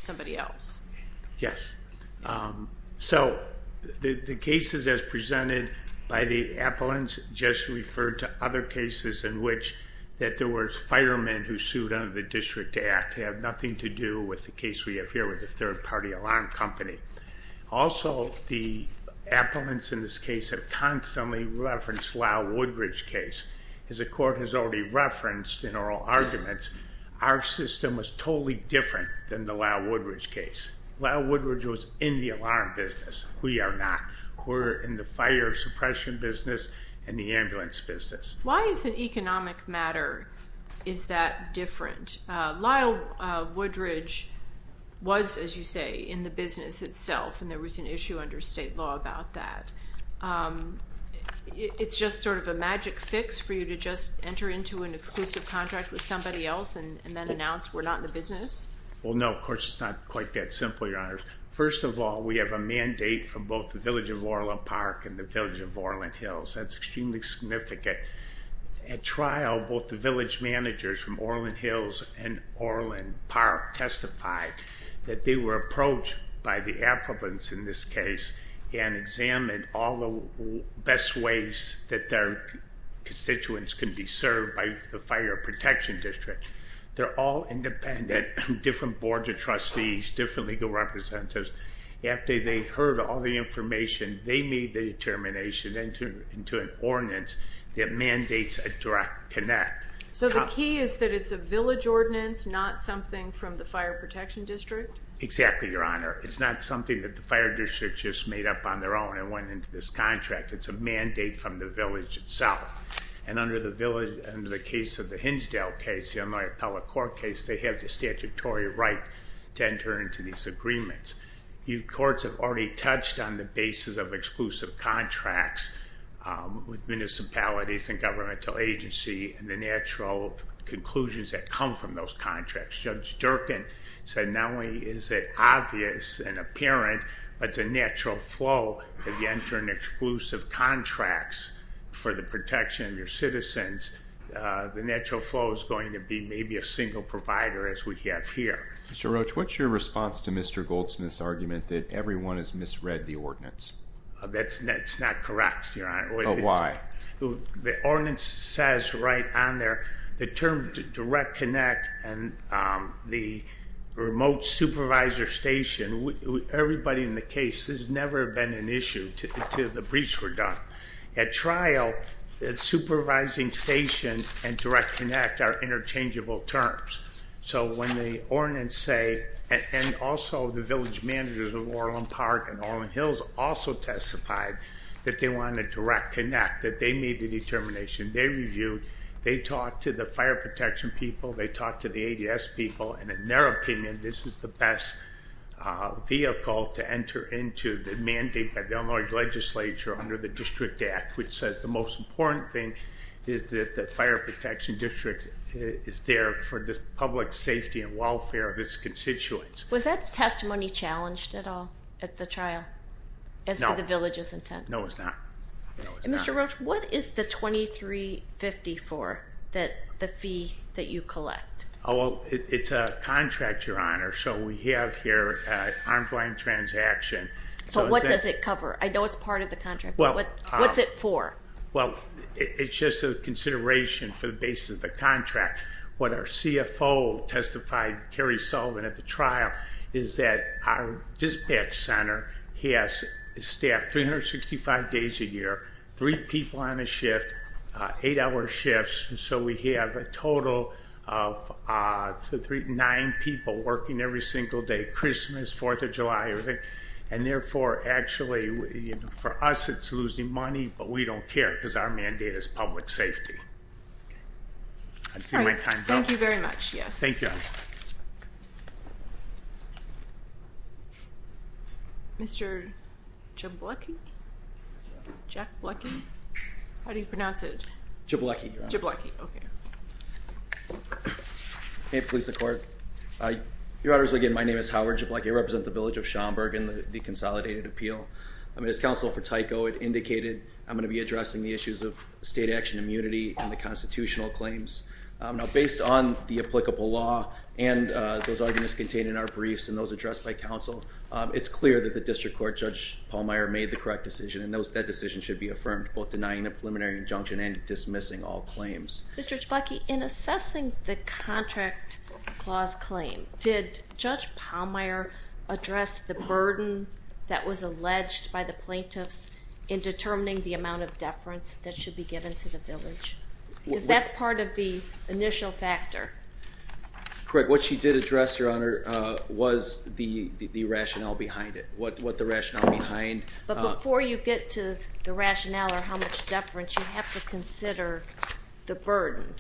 somebody else. Yes. So the cases as presented by the appellants just referred to other cases in which that there were firemen who sued under the District Act have nothing to do with the case we have here with the third-party alarm company. Also, the appellants in this case have constantly referenced Lyle Woodridge case. As the court has already referenced in oral arguments, our system was totally different than the Lyle Woodridge case. Lyle Woodridge was in the alarm business. We are not. We're in the fire suppression business and the ambulance business. Why is an economic matter is that different? Lyle Woodridge was, as you say, in the business itself, and there was an issue under state law about that. It's just sort of a magic fix for you to just enter into an exclusive contract with somebody else and then announce we're not in the business? Well, no, of course it's not quite that simple, Your Honors. First of all, we have a mandate from both the Village of Orland Park and the Village of Orland Hills. That's extremely significant. At trial, both the village managers from Orland Hills and Orland Park testified that they were approached by the appellants in this case and examined all the best ways that their constituents could be served by the Fire Protection District. They're all independent, different boards of trustees, different legal representatives. After they heard all the information, they made the determination into an ordinance that mandates a direct connect. So the key is that it's a village ordinance, not something from the Fire Protection District? Exactly, Your Honor. It's not something that the Fire District just made up on their own and went into this contract. It's a mandate from the village itself. And under the case of the Hinsdale case, the Illinois Appellate Court case, they have the statutory right to enter into these agreements. Courts have already touched on the basis of exclusive contracts with municipalities and governmental agency and the natural conclusions that come from those contracts. Judge Durkin said not only is it obvious and apparent, but it's a natural flow that you enter in exclusive contracts for the protection of your citizens. The natural flow is going to be maybe a single provider as we have here. Mr. Roach, what's your response to Mr. Goldsmith's argument that everyone has misread the ordinance? That's not correct, Your Honor. Why? The ordinance says right on there the term direct connect and the remote supervisor station. Everybody in the case, this has never been an issue until the briefs were done. At trial, the supervising station and direct connect are interchangeable terms. So when the ordinance say, and also the village managers of Orland Park and Orland Hills also testified that they wanted direct connect, that they made the determination, they reviewed, they talked to the fire protection people, they talked to the ADS people, and in their opinion, this is the best vehicle to enter into the mandate by the Illinois legislature under the District Act, which says the most important thing is that the fire protection district is there for the public safety and welfare of its constituents. Was that testimony challenged at all at the trial as to the village's intent? No, it was not. Mr. Roach, what is the 2354, the fee that you collect? Well, it's a contract, Your Honor, so we have here an arm's-length transaction. But what does it cover? I know it's part of the contract, but what's it for? Well, it's just a consideration for the basis of the contract. What our CFO testified, Carrie Sullivan, at the trial is that our dispatch center has staff 365 days a year, three people on a shift, eight-hour shifts, so we have a total of nine people working every single day, Christmas, 4th of July, and therefore, actually, for us, it's losing money, but we don't care because our mandate is public safety. All right. Thank you very much, yes. Thank you, Your Honor. Mr. Jablecki? Jack Blecki? How do you pronounce it? Jablecki, Your Honor. Jablecki, okay. May it please the Court. Your Honor, as we begin, my name is Howard Jablecki. I represent the village of Schaumburg in the Consolidated Appeal. As counsel for TYCO, it indicated I'm going to be addressing the issues of state action immunity and the constitutional claims. Now, based on the applicable law and those arguments contained in our briefs and those addressed by counsel, it's clear that the district court, Judge Pallmeyer, made the correct decision, and that decision should be affirmed, both denying a preliminary injunction and dismissing all claims. Mr. Jablecki, in assessing the contract clause claim, did Judge Pallmeyer address the burden that was alleged by the plaintiffs in determining the amount of deference that should be given to the village? Because that's part of the initial factor. Correct. What she did address, Your Honor, was the rationale behind it, what the rationale behind. But before you get to the rationale or how much deference, you have to consider the burden.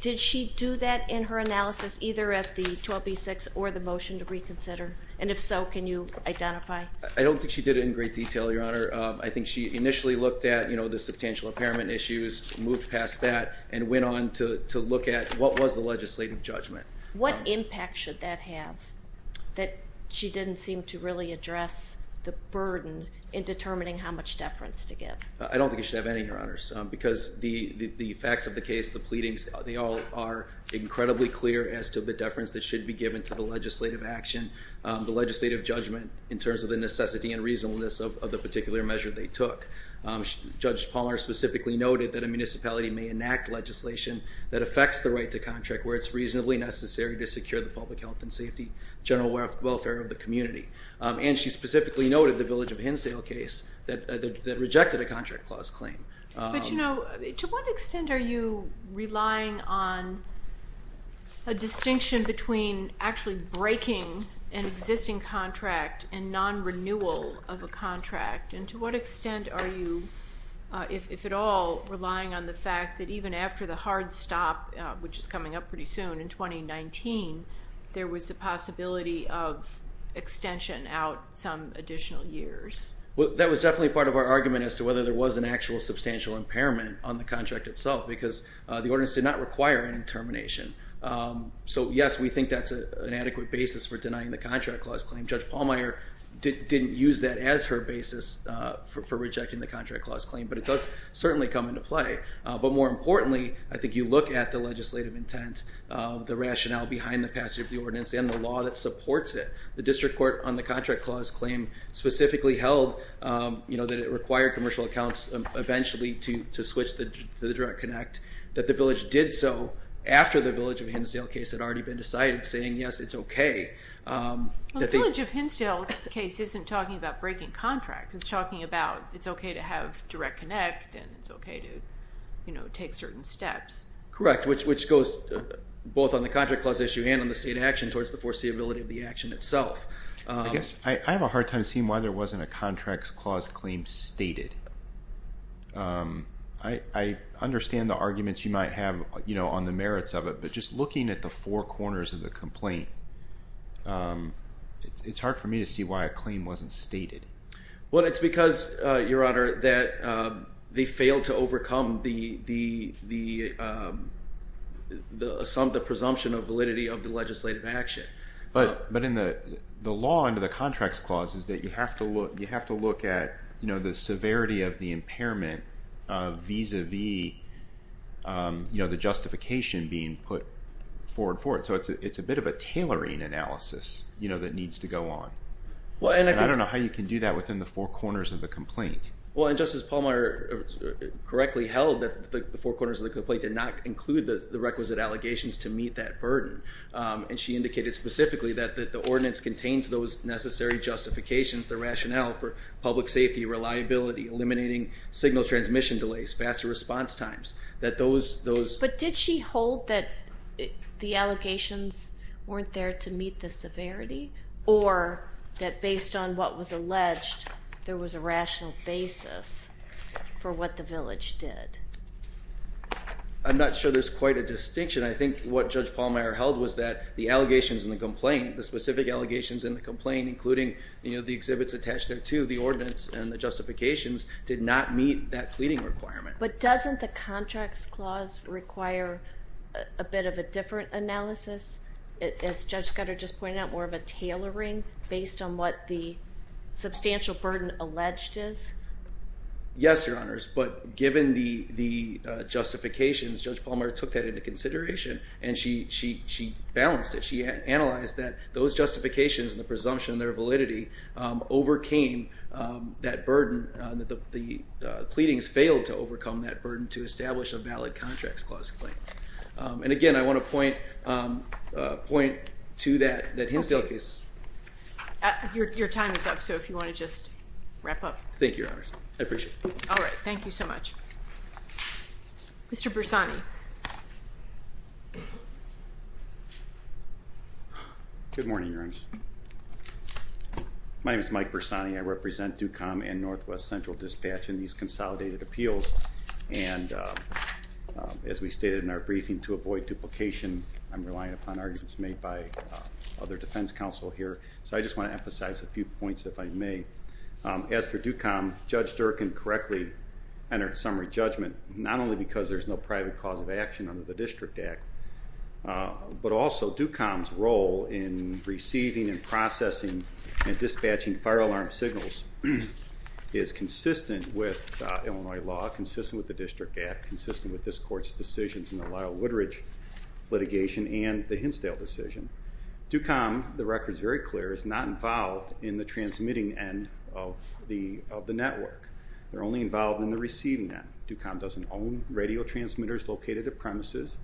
Did she do that in her analysis, either at the 12b-6 or the motion to reconsider? And if so, can you identify? I don't think she did it in great detail, Your Honor. I think she initially looked at the substantial impairment issues, moved past that, and went on to look at what was the legislative judgment. What impact should that have that she didn't seem to really address the burden in determining how much deference to give? I don't think she should have any, Your Honor, because the facts of the case, the pleadings, they all are incredibly clear as to the deference that should be given to the legislative action, the legislative judgment, in terms of the necessity and reasonableness of the particular measure they took. Judge Palmer specifically noted that a municipality may enact legislation that affects the right to contract where it's reasonably necessary to secure the public health and safety, general welfare of the community. And she specifically noted the Village of Hinsdale case that rejected a contract clause claim. But, you know, to what extent are you relying on a distinction between actually breaking an existing contract and non-renewal of a contract? And to what extent are you, if at all, relying on the fact that even after the hard stop, which is coming up pretty soon in 2019, there was a possibility of extension out some additional years? Well, that was definitely part of our argument as to whether there was an actual substantial impairment on the contract itself because the ordinance did not require an intermination. So, yes, we think that's an adequate basis for denying the contract clause claim. Judge Palmer didn't use that as her basis for rejecting the contract clause claim, but it does certainly come into play. But more importantly, I think you look at the legislative intent, the rationale behind the passage of the ordinance, and the law that supports it. The district court on the contract clause claim specifically held, you know, that it required commercial accounts eventually to switch to the direct connect, that the village did so after the Village of Hinsdale case had already been decided, saying, yes, it's okay. The Village of Hinsdale case isn't talking about breaking contracts. It's talking about it's okay to have direct connect and it's okay to, you know, take certain steps. Correct, which goes both on the contract clause issue and on the state action towards the foreseeability of the action itself. I guess I have a hard time seeing why there wasn't a contract clause claim stated. I understand the arguments you might have, you know, on the merits of it, but just looking at the four corners of the complaint, it's hard for me to see why a claim wasn't stated. Well, it's because, Your Honor, that they failed to overcome the presumption of validity of the legislative action. But in the law under the contracts clause is that you have to look at, you know, the severity of the impairment vis-à-vis, you know, the justification being put forward for it. So it's a bit of a tailoring analysis, you know, that needs to go on. And I don't know how you can do that within the four corners of the complaint. Well, and Justice Pallmeyer correctly held that the four corners of the complaint did not include the requisite allegations to meet that burden. And she indicated specifically that the ordinance contains those necessary justifications, the rationale for public safety, reliability, eliminating signal transmission delays, faster response times, that those. But did she hold that the allegations weren't there to meet the severity or that based on what was alleged there was a rational basis for what the village did? I'm not sure there's quite a distinction. I think what Judge Pallmeyer held was that the allegations in the complaint, the specific allegations in the complaint including, you know, the exhibits attached there too, the ordinance and the justifications, did not meet that pleading requirement. But doesn't the contracts clause require a bit of a different analysis? As Judge Scudder just pointed out, more of a tailoring based on what the substantial burden alleged is? Yes, Your Honors. But given the justifications, Judge Pallmeyer took that into consideration and she balanced it. She analyzed that those justifications and the presumption and their validity overcame that burden, that the pleadings failed to overcome that burden to establish a valid contracts clause claim. And, again, I want to point to that Hinsdale case. Your time is up, so if you want to just wrap up. Thank you, Your Honors. I appreciate it. All right. Thank you so much. Mr. Bersani. Good morning, Your Honors. My name is Mike Bersani. I represent DUCOM and Northwest Central Dispatch in these consolidated appeals. And as we stated in our briefing, to avoid duplication, I'm relying upon arguments made by other defense counsel here. So I just want to emphasize a few points, if I may. As for DUCOM, Judge Durkan correctly entered summary judgment, not only because there's no private cause of action under the District Act, but also DUCOM's role in receiving and processing and dispatching fire alarm signals is consistent with Illinois law, consistent with the District Act, consistent with this Court's decisions in the Lyle Woodridge litigation and the Hinsdale decision. DUCOM, the record is very clear, is not involved in the transmitting end of the network. They're only involved in the receiving end. DUCOM doesn't own radio transmitters located at premises.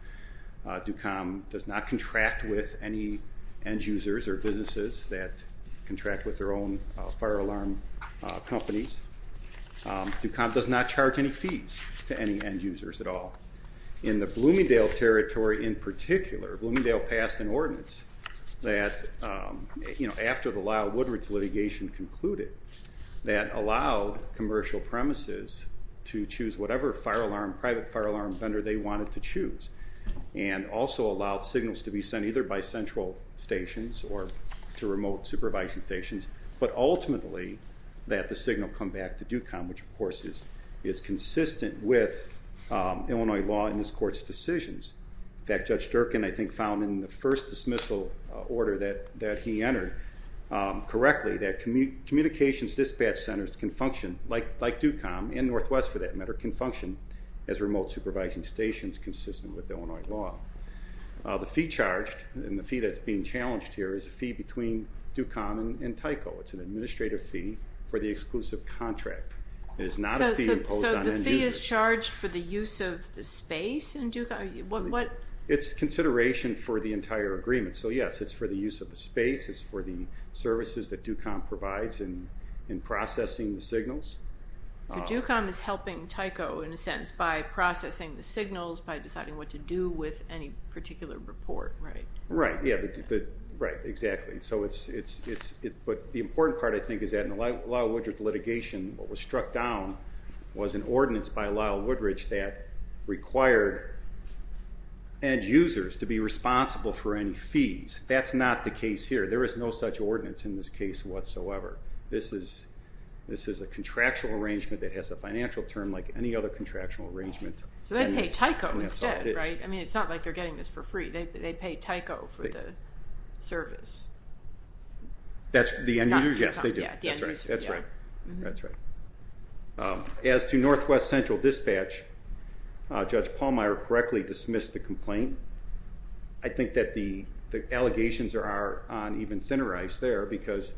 DUCOM does not contract with any end users or businesses that contract with their own fire alarm companies. DUCOM does not charge any fees to any end users at all. In the Bloomingdale Territory in particular, Bloomingdale passed an ordinance that, after the Lyle Woodridge litigation concluded, that allowed commercial premises to choose whatever private fire alarm vendor they wanted to choose and also allowed signals to be sent either by central stations or to remote supervising stations, but ultimately that the signal come back to DUCOM, which of course is consistent with Illinois law in this Court's decisions. In fact, Judge Durkin, I think, found in the first dismissal order that he entered correctly that communications dispatch centers can function, like DUCOM, and Northwest for that matter, can function as remote supervising stations, consistent with Illinois law. The fee charged, and the fee that's being challenged here, is a fee between DUCOM and TYCO. It's an administrative fee for the exclusive contract. It is not a fee imposed on end users. So it's charged for the use of the space in DUCOM? It's consideration for the entire agreement. So, yes, it's for the use of the space. It's for the services that DUCOM provides in processing the signals. So DUCOM is helping TYCO, in a sense, by processing the signals, by deciding what to do with any particular report, right? Right, exactly. But the important part, I think, is that in the Lyle Woodridge litigation, what was struck down was an ordinance by Lyle Woodridge that required end users to be responsible for any fees. That's not the case here. There is no such ordinance in this case whatsoever. This is a contractual arrangement that has a financial term like any other contractual arrangement. So they pay TYCO instead, right? I mean, it's not like they're getting this for free. They pay TYCO for the service. That's the end user? Yes, they do. That's right. That's right. As to Northwest Central Dispatch, Judge Pallmeyer correctly dismissed the complaint. I think that the allegations are on even thinner ice there because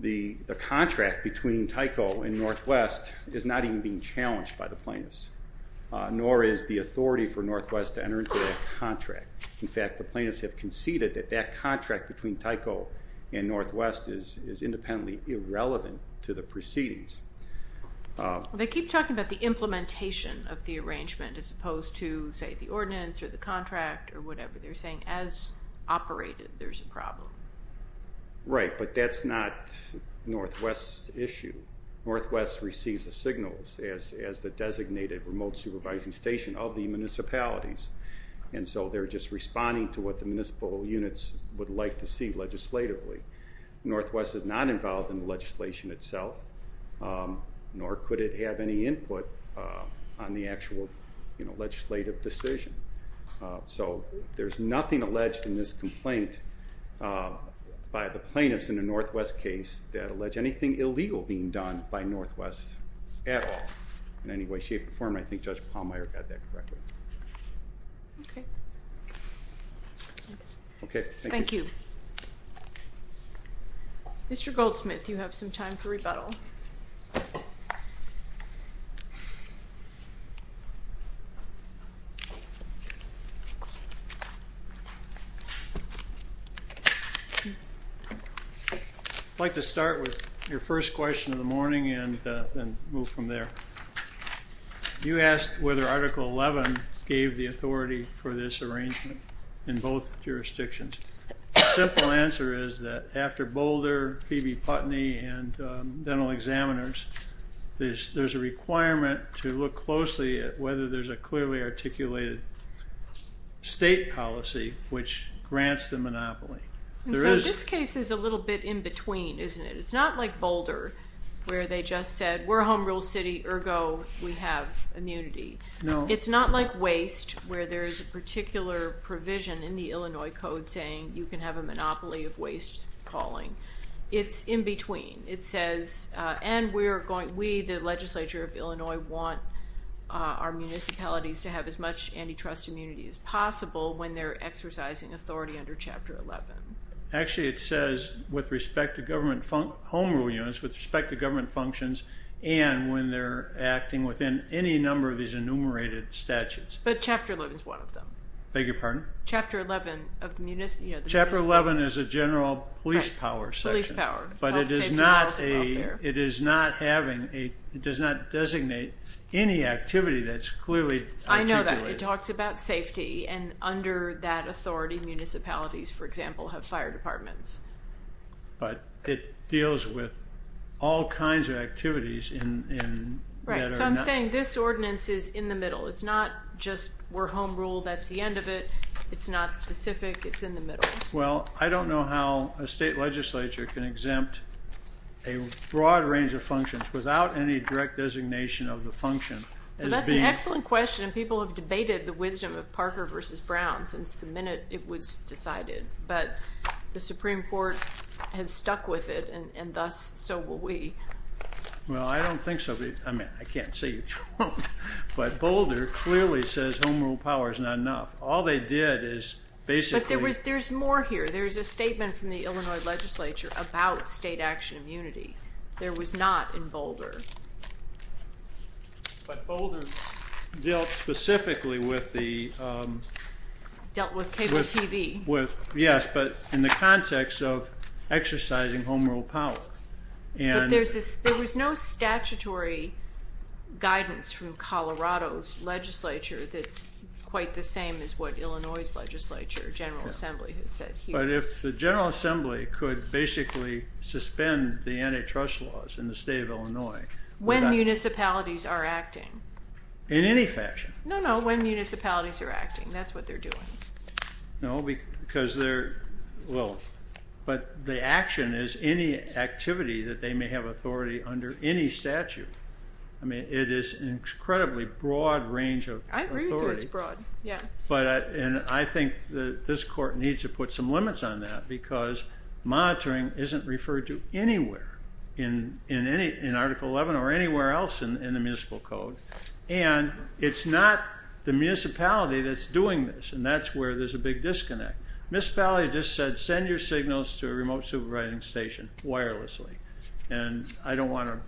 the contract between TYCO and Northwest is not even being challenged by the plaintiffs, nor is the authority for Northwest to enter into that contract. In fact, the plaintiffs have conceded that that contract between TYCO and Northwest is independently irrelevant to the proceedings. They keep talking about the implementation of the arrangement as opposed to, say, the ordinance or the contract or whatever. They're saying as operated, there's a problem. Right, but that's not Northwest's issue. Northwest receives the signals as the designated remote supervising station of the municipalities, and so they're just responding to what the municipal units would like to see legislatively. Northwest is not involved in the legislation itself, nor could it have any input on the actual legislative decision. So there's nothing alleged in this complaint by the plaintiffs in the Northwest case that allege anything illegal being done by Northwest at all in any way, shape, or form. And I think Judge Pallmeyer got that correctly. Okay. Thank you. Mr. Goldsmith, you have some time for rebuttal. I'd like to start with your first question of the morning and then move from there. You asked whether Article 11 gave the authority for this arrangement in both jurisdictions. The simple answer is that after Boulder, Phoebe Putney, and dental examiners, there's a requirement to look closely at whether there's a clearly articulated state policy which grants the monopoly. So this case is a little bit in between, isn't it? It's not like Boulder where they just said, we're a home rule city, ergo, we have immunity. It's not like Waste where there's a particular provision in the Illinois Code saying you can have a monopoly of waste calling. It's in between. It says, and we, the legislature of Illinois, want our municipalities to have as much antitrust immunity as possible when they're exercising authority under Chapter 11. Actually, it says with respect to government home rule units, with respect to government functions, and when they're acting within any number of these enumerated statutes. But Chapter 11 is one of them. I beg your pardon? Chapter 11 is a general police power section. But it does not designate any activity that's clearly articulated. I know that. It talks about safety, and under that authority municipalities, for example, have fire departments. But it deals with all kinds of activities. Right. So I'm saying this ordinance is in the middle. It's not just we're home rule, that's the end of it. It's not specific. It's in the middle. Well, I don't know how a state legislature can exempt a broad range of functions without any direct designation of the function. So that's an excellent question. People have debated the wisdom of Parker v. Brown since the minute it was decided. But the Supreme Court has stuck with it, and thus so will we. Well, I don't think so. I mean, I can't say you're wrong. But Boulder clearly says home rule power is not enough. All they did is basically – But there's more here. There's a statement from the Illinois legislature about state action immunity. There was not in Boulder. But Boulder dealt specifically with the – Dealt with cable TV. Yes, but in the context of exercising home rule power. But there was no statutory guidance from Colorado's legislature that's quite the same as what Illinois's legislature, General Assembly, has said here. But if the General Assembly could basically suspend the antitrust laws in the state of Illinois. When municipalities are acting. In any fashion. No, no, when municipalities are acting. That's what they're doing. No, because they're – Well, but the action is any activity that they may have authority under any statute. I mean, it is an incredibly broad range of authority. I agree that it's broad, yeah. And I think that this court needs to put some limits on that because monitoring isn't referred to anywhere in Article 11 or anywhere else in the municipal code. And it's not the municipality that's doing this, and that's where there's a big disconnect. Municipality just said send your signals to a remote supervising station wirelessly, and I don't want to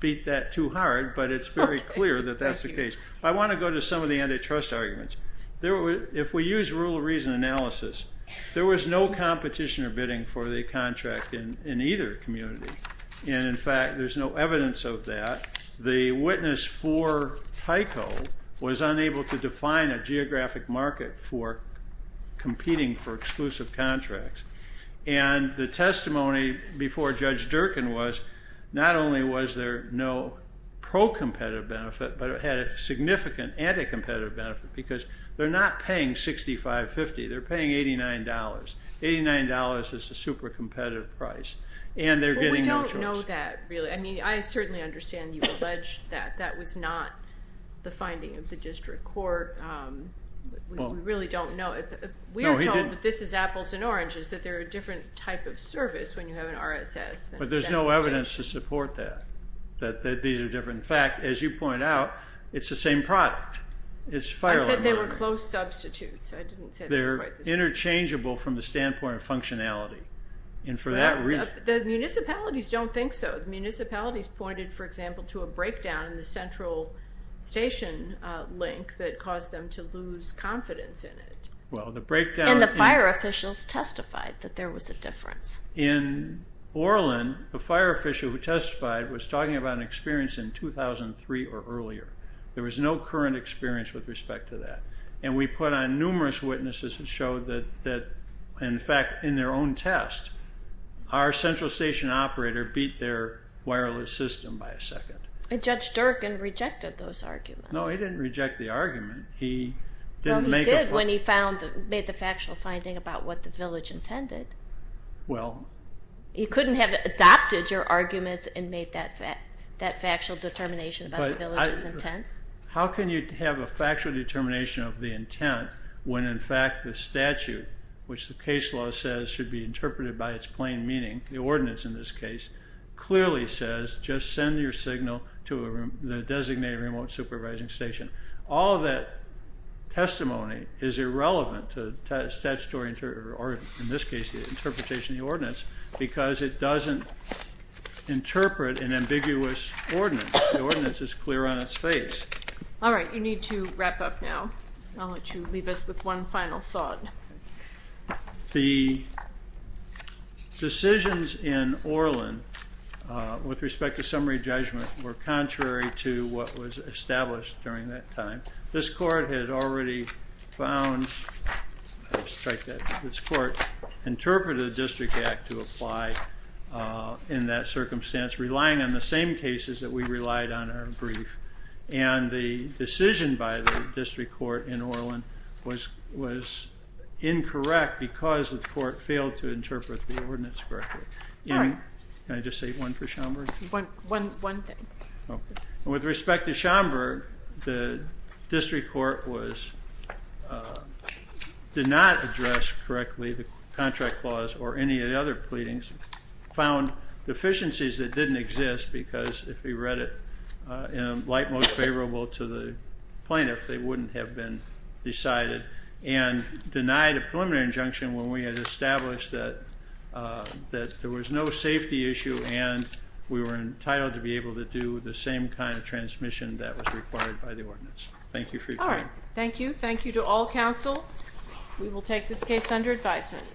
beat that too hard, but it's very clear that that's the case. I want to go to some of the antitrust arguments. If we use rule of reason analysis, there was no competition or bidding for the contract in either community. And, in fact, there's no evidence of that. The witness for FICO was unable to define a geographic market for competing for exclusive contracts. And the testimony before Judge Durkin was not only was there no pro-competitive benefit, but it had a significant anti-competitive benefit because they're not paying $65.50. They're paying $89. $89 is a super competitive price, and they're getting no choice. Well, we don't know that really. I mean, I certainly understand you've alleged that. That was not the finding of the district court. We really don't know. We are told that this is apples and oranges, that they're a different type of service when you have an RSS. But there's no evidence to support that, that these are different. In fact, as you point out, it's the same product. I said they were closed substitutes. They're interchangeable from the standpoint of functionality. The municipalities don't think so. The municipalities pointed, for example, to a breakdown in the central station link that caused them to lose confidence in it. And the fire officials testified that there was a difference. In Orlin, the fire official who testified was talking about an experience in 2003 or earlier. There was no current experience with respect to that. And we put on numerous witnesses that showed that, in fact, in their own test, our central station operator beat their wireless system by a second. Judge Durkin rejected those arguments. No, he didn't reject the argument. He didn't make a point. Well, he did when he made the factual finding about what the village intended. Well. He couldn't have adopted your arguments and made that factual determination about the village's intent. How can you have a factual determination of the intent when, in fact, the statute, which the case law says should be interpreted by its plain meaning, the ordinance in this case, clearly says just send your signal to the designated remote supervising station. All of that testimony is irrelevant to the statutory interpretation or, in this case, the interpretation of the ordinance because it doesn't interpret an ambiguous ordinance. The ordinance is clear on its face. All right. You need to wrap up now. I'll let you leave us with one final thought. The decisions in Orlin with respect to summary judgment were contrary to what was established during that time. This court had already found I'll strike that. This court interpreted the District Act to apply in that circumstance relying on the same cases that we relied on in our brief, and the decision by the District Court in Orlin was incorrect because the court failed to interpret the ordinance correctly. Can I just say one for Schomburg? One thing. With respect to Schomburg, the District Court did not address correctly the contract clause or any of the other pleadings, found deficiencies that didn't exist because if we read it in a light, most favorable to the plaintiff, they wouldn't have been decided, and denied a preliminary injunction when we had established that there was no safety issue and we were entitled to be able to do the same kind of transmission that was required by the ordinance. Thank you for your time. All right. Thank you. Thank you to all counsel. We will take this case under advisement.